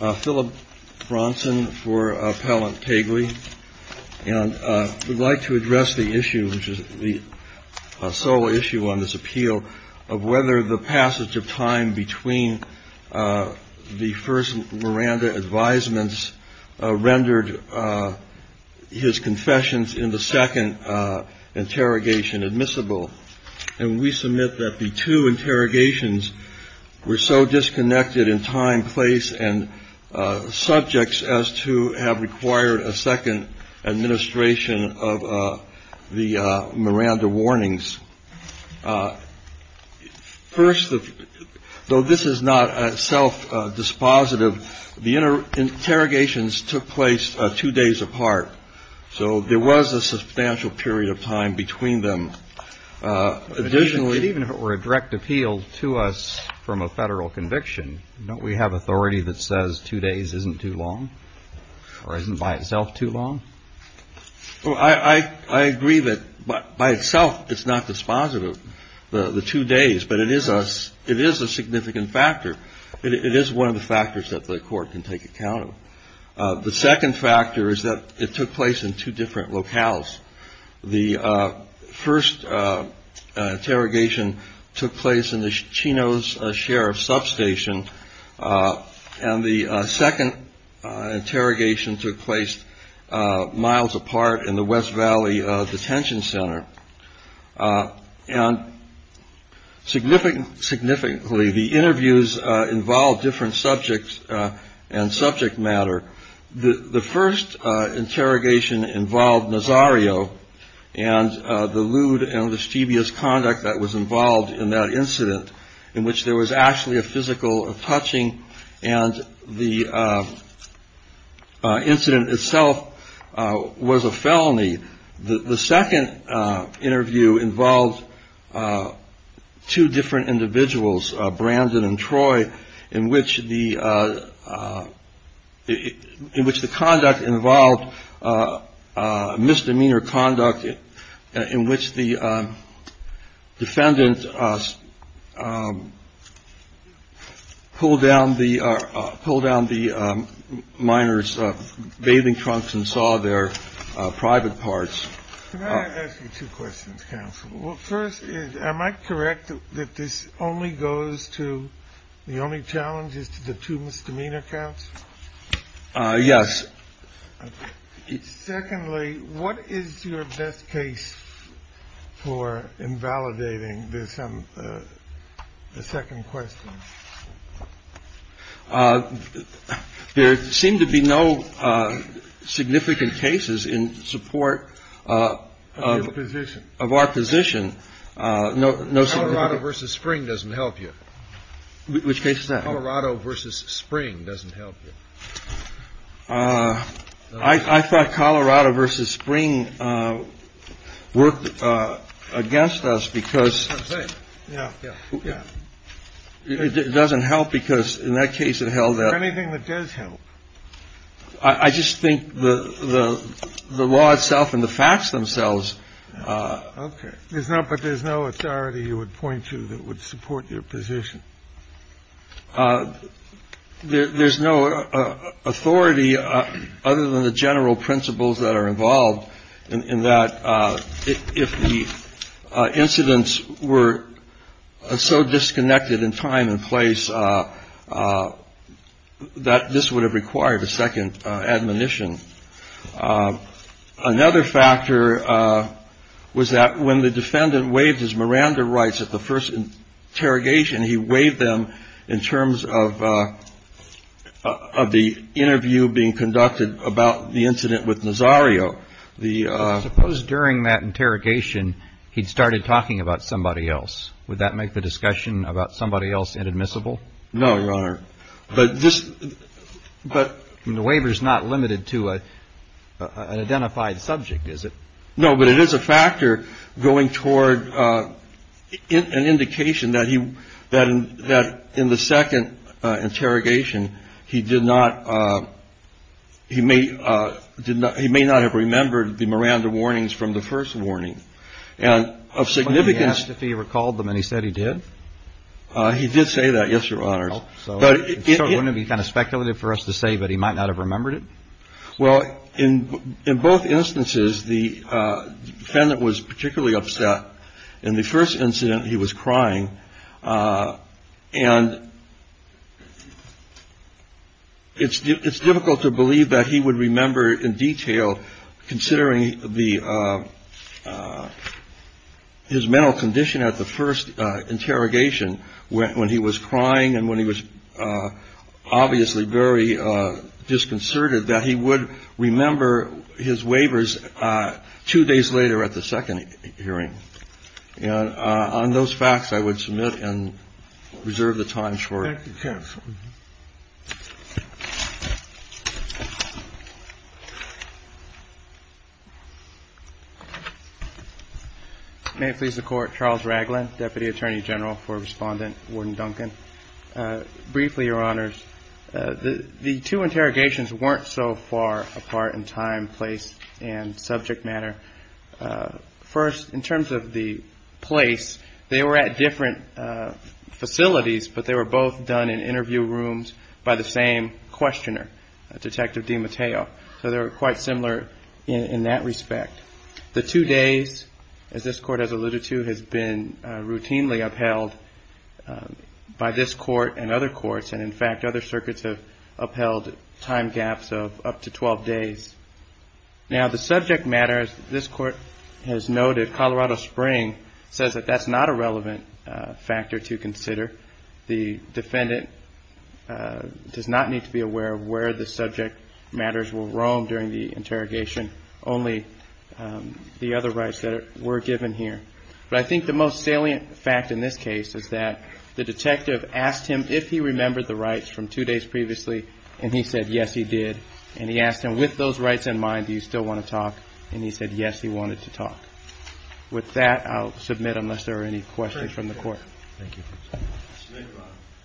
I would like to address the sole issue on this appeal of whether the passage of time between the first Miranda advisements rendered his confessions in the second interrogation admissible. And we submit that the two interrogations were so disconnected in time, place, and subjects as to have required a second administration of the Miranda warnings. First, though this is not self-dispositive, the interrogations took place two days apart. So there was a substantial period of time between them. Additionally… But even if it were a direct appeal to us from a Federal conviction, don't we have authority that says two days isn't too long, or isn't by itself too long? Well, I agree that by itself it's not dispositive, the two days, but it is a significant factor. It is one of the factors that the Court can take account of. The second factor is that it took place in two different locales. The first interrogation took place in the Chino's Sheriff's Substation, and the second interrogation took place miles apart in the West Valley Detention Center. And significantly, the interviews involved different subjects and subject matter. The first interrogation involved Nazario and the lewd and mischievous conduct that was involved in that incident, in which there was actually a physical touching and the incident itself was a felony. The second interview involved two different individuals, Brandon and Troy, in which the conduct involved misdemeanor conduct in which the defendant pulled down the minor's bathing trunks and saw their private parts. Can I ask you two questions, counsel? Well, first, am I correct that this only goes to the only challenge is to the two misdemeanor counts? Yes. Secondly, what is your best case for invalidating this? And the second question, there seem to be no significant cases in support of our position. No, no. So a lot of versus spring doesn't help you. Which case that Colorado versus spring doesn't help you. I thought Colorado versus spring worked against us because it doesn't help. Because in that case, it held up anything that does help. I just think the the law itself and the facts themselves. OK. There's not. But there's no authority you would point to that would support your position. There's no authority other than the general principles that are involved in that if the incidents were so disconnected in time and place that this would have required a second admonition. Another factor was that when the defendant waived his Miranda rights at the first interrogation, he waived them in terms of of the interview being conducted about the incident with Nazario. Suppose during that interrogation, he'd started talking about somebody else. Would that make the discussion about somebody else inadmissible? No, Your Honor. But this but the waiver is not limited to an identified subject, is it? No, but it is a factor going toward an indication that he that that in the second interrogation, he did not he may did not he may not have remembered the Miranda warnings from the first warning. And of significance, if he recalled them and he said he did, he did say that. Yes, Your Honor. But it wouldn't be kind of speculative for us to say that he might not have remembered it. Well, in in both instances, the defendant was particularly upset in the first incident. He was crying. And. It's difficult to believe that he would remember in detail, considering the. His mental condition at the first interrogation, when he was crying and when he was obviously very disconcerted that he would remember his waivers two days later at the second hearing on those facts, I would submit and reserve the time for. Thank you, counsel. May it please the Court. Charles Ragland, deputy attorney general for Respondent Warden Duncan. Briefly, Your Honors, the two interrogations weren't so far apart in time, place and subject matter. First, in terms of the place, they were at different facilities, but they were both done in interview rooms by the same questioner, Detective DiMatteo. So they were quite similar in that respect. The two days, as this court has alluded to, has been routinely upheld by this court and other courts. And in fact, other circuits have upheld time gaps of up to 12 days. Now, the subject matter, as this court has noted, Colorado Spring says that that's not a relevant factor to consider. The defendant does not need to be aware of where the subject matters will roam during the interrogation. Only the other rights that were given here. But I think the most salient fact in this case is that the detective asked him if he remembered the rights from two days previously. And he said, yes, he did. And he asked him, with those rights in mind, do you still want to talk? And he said, yes, he wanted to talk. With that, I'll submit unless there are any questions from the court. Thank you.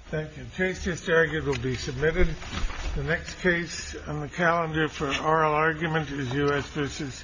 Thank you. Case just argued will be submitted. The next case on the calendar for oral argument is U.S. versus Pelicano.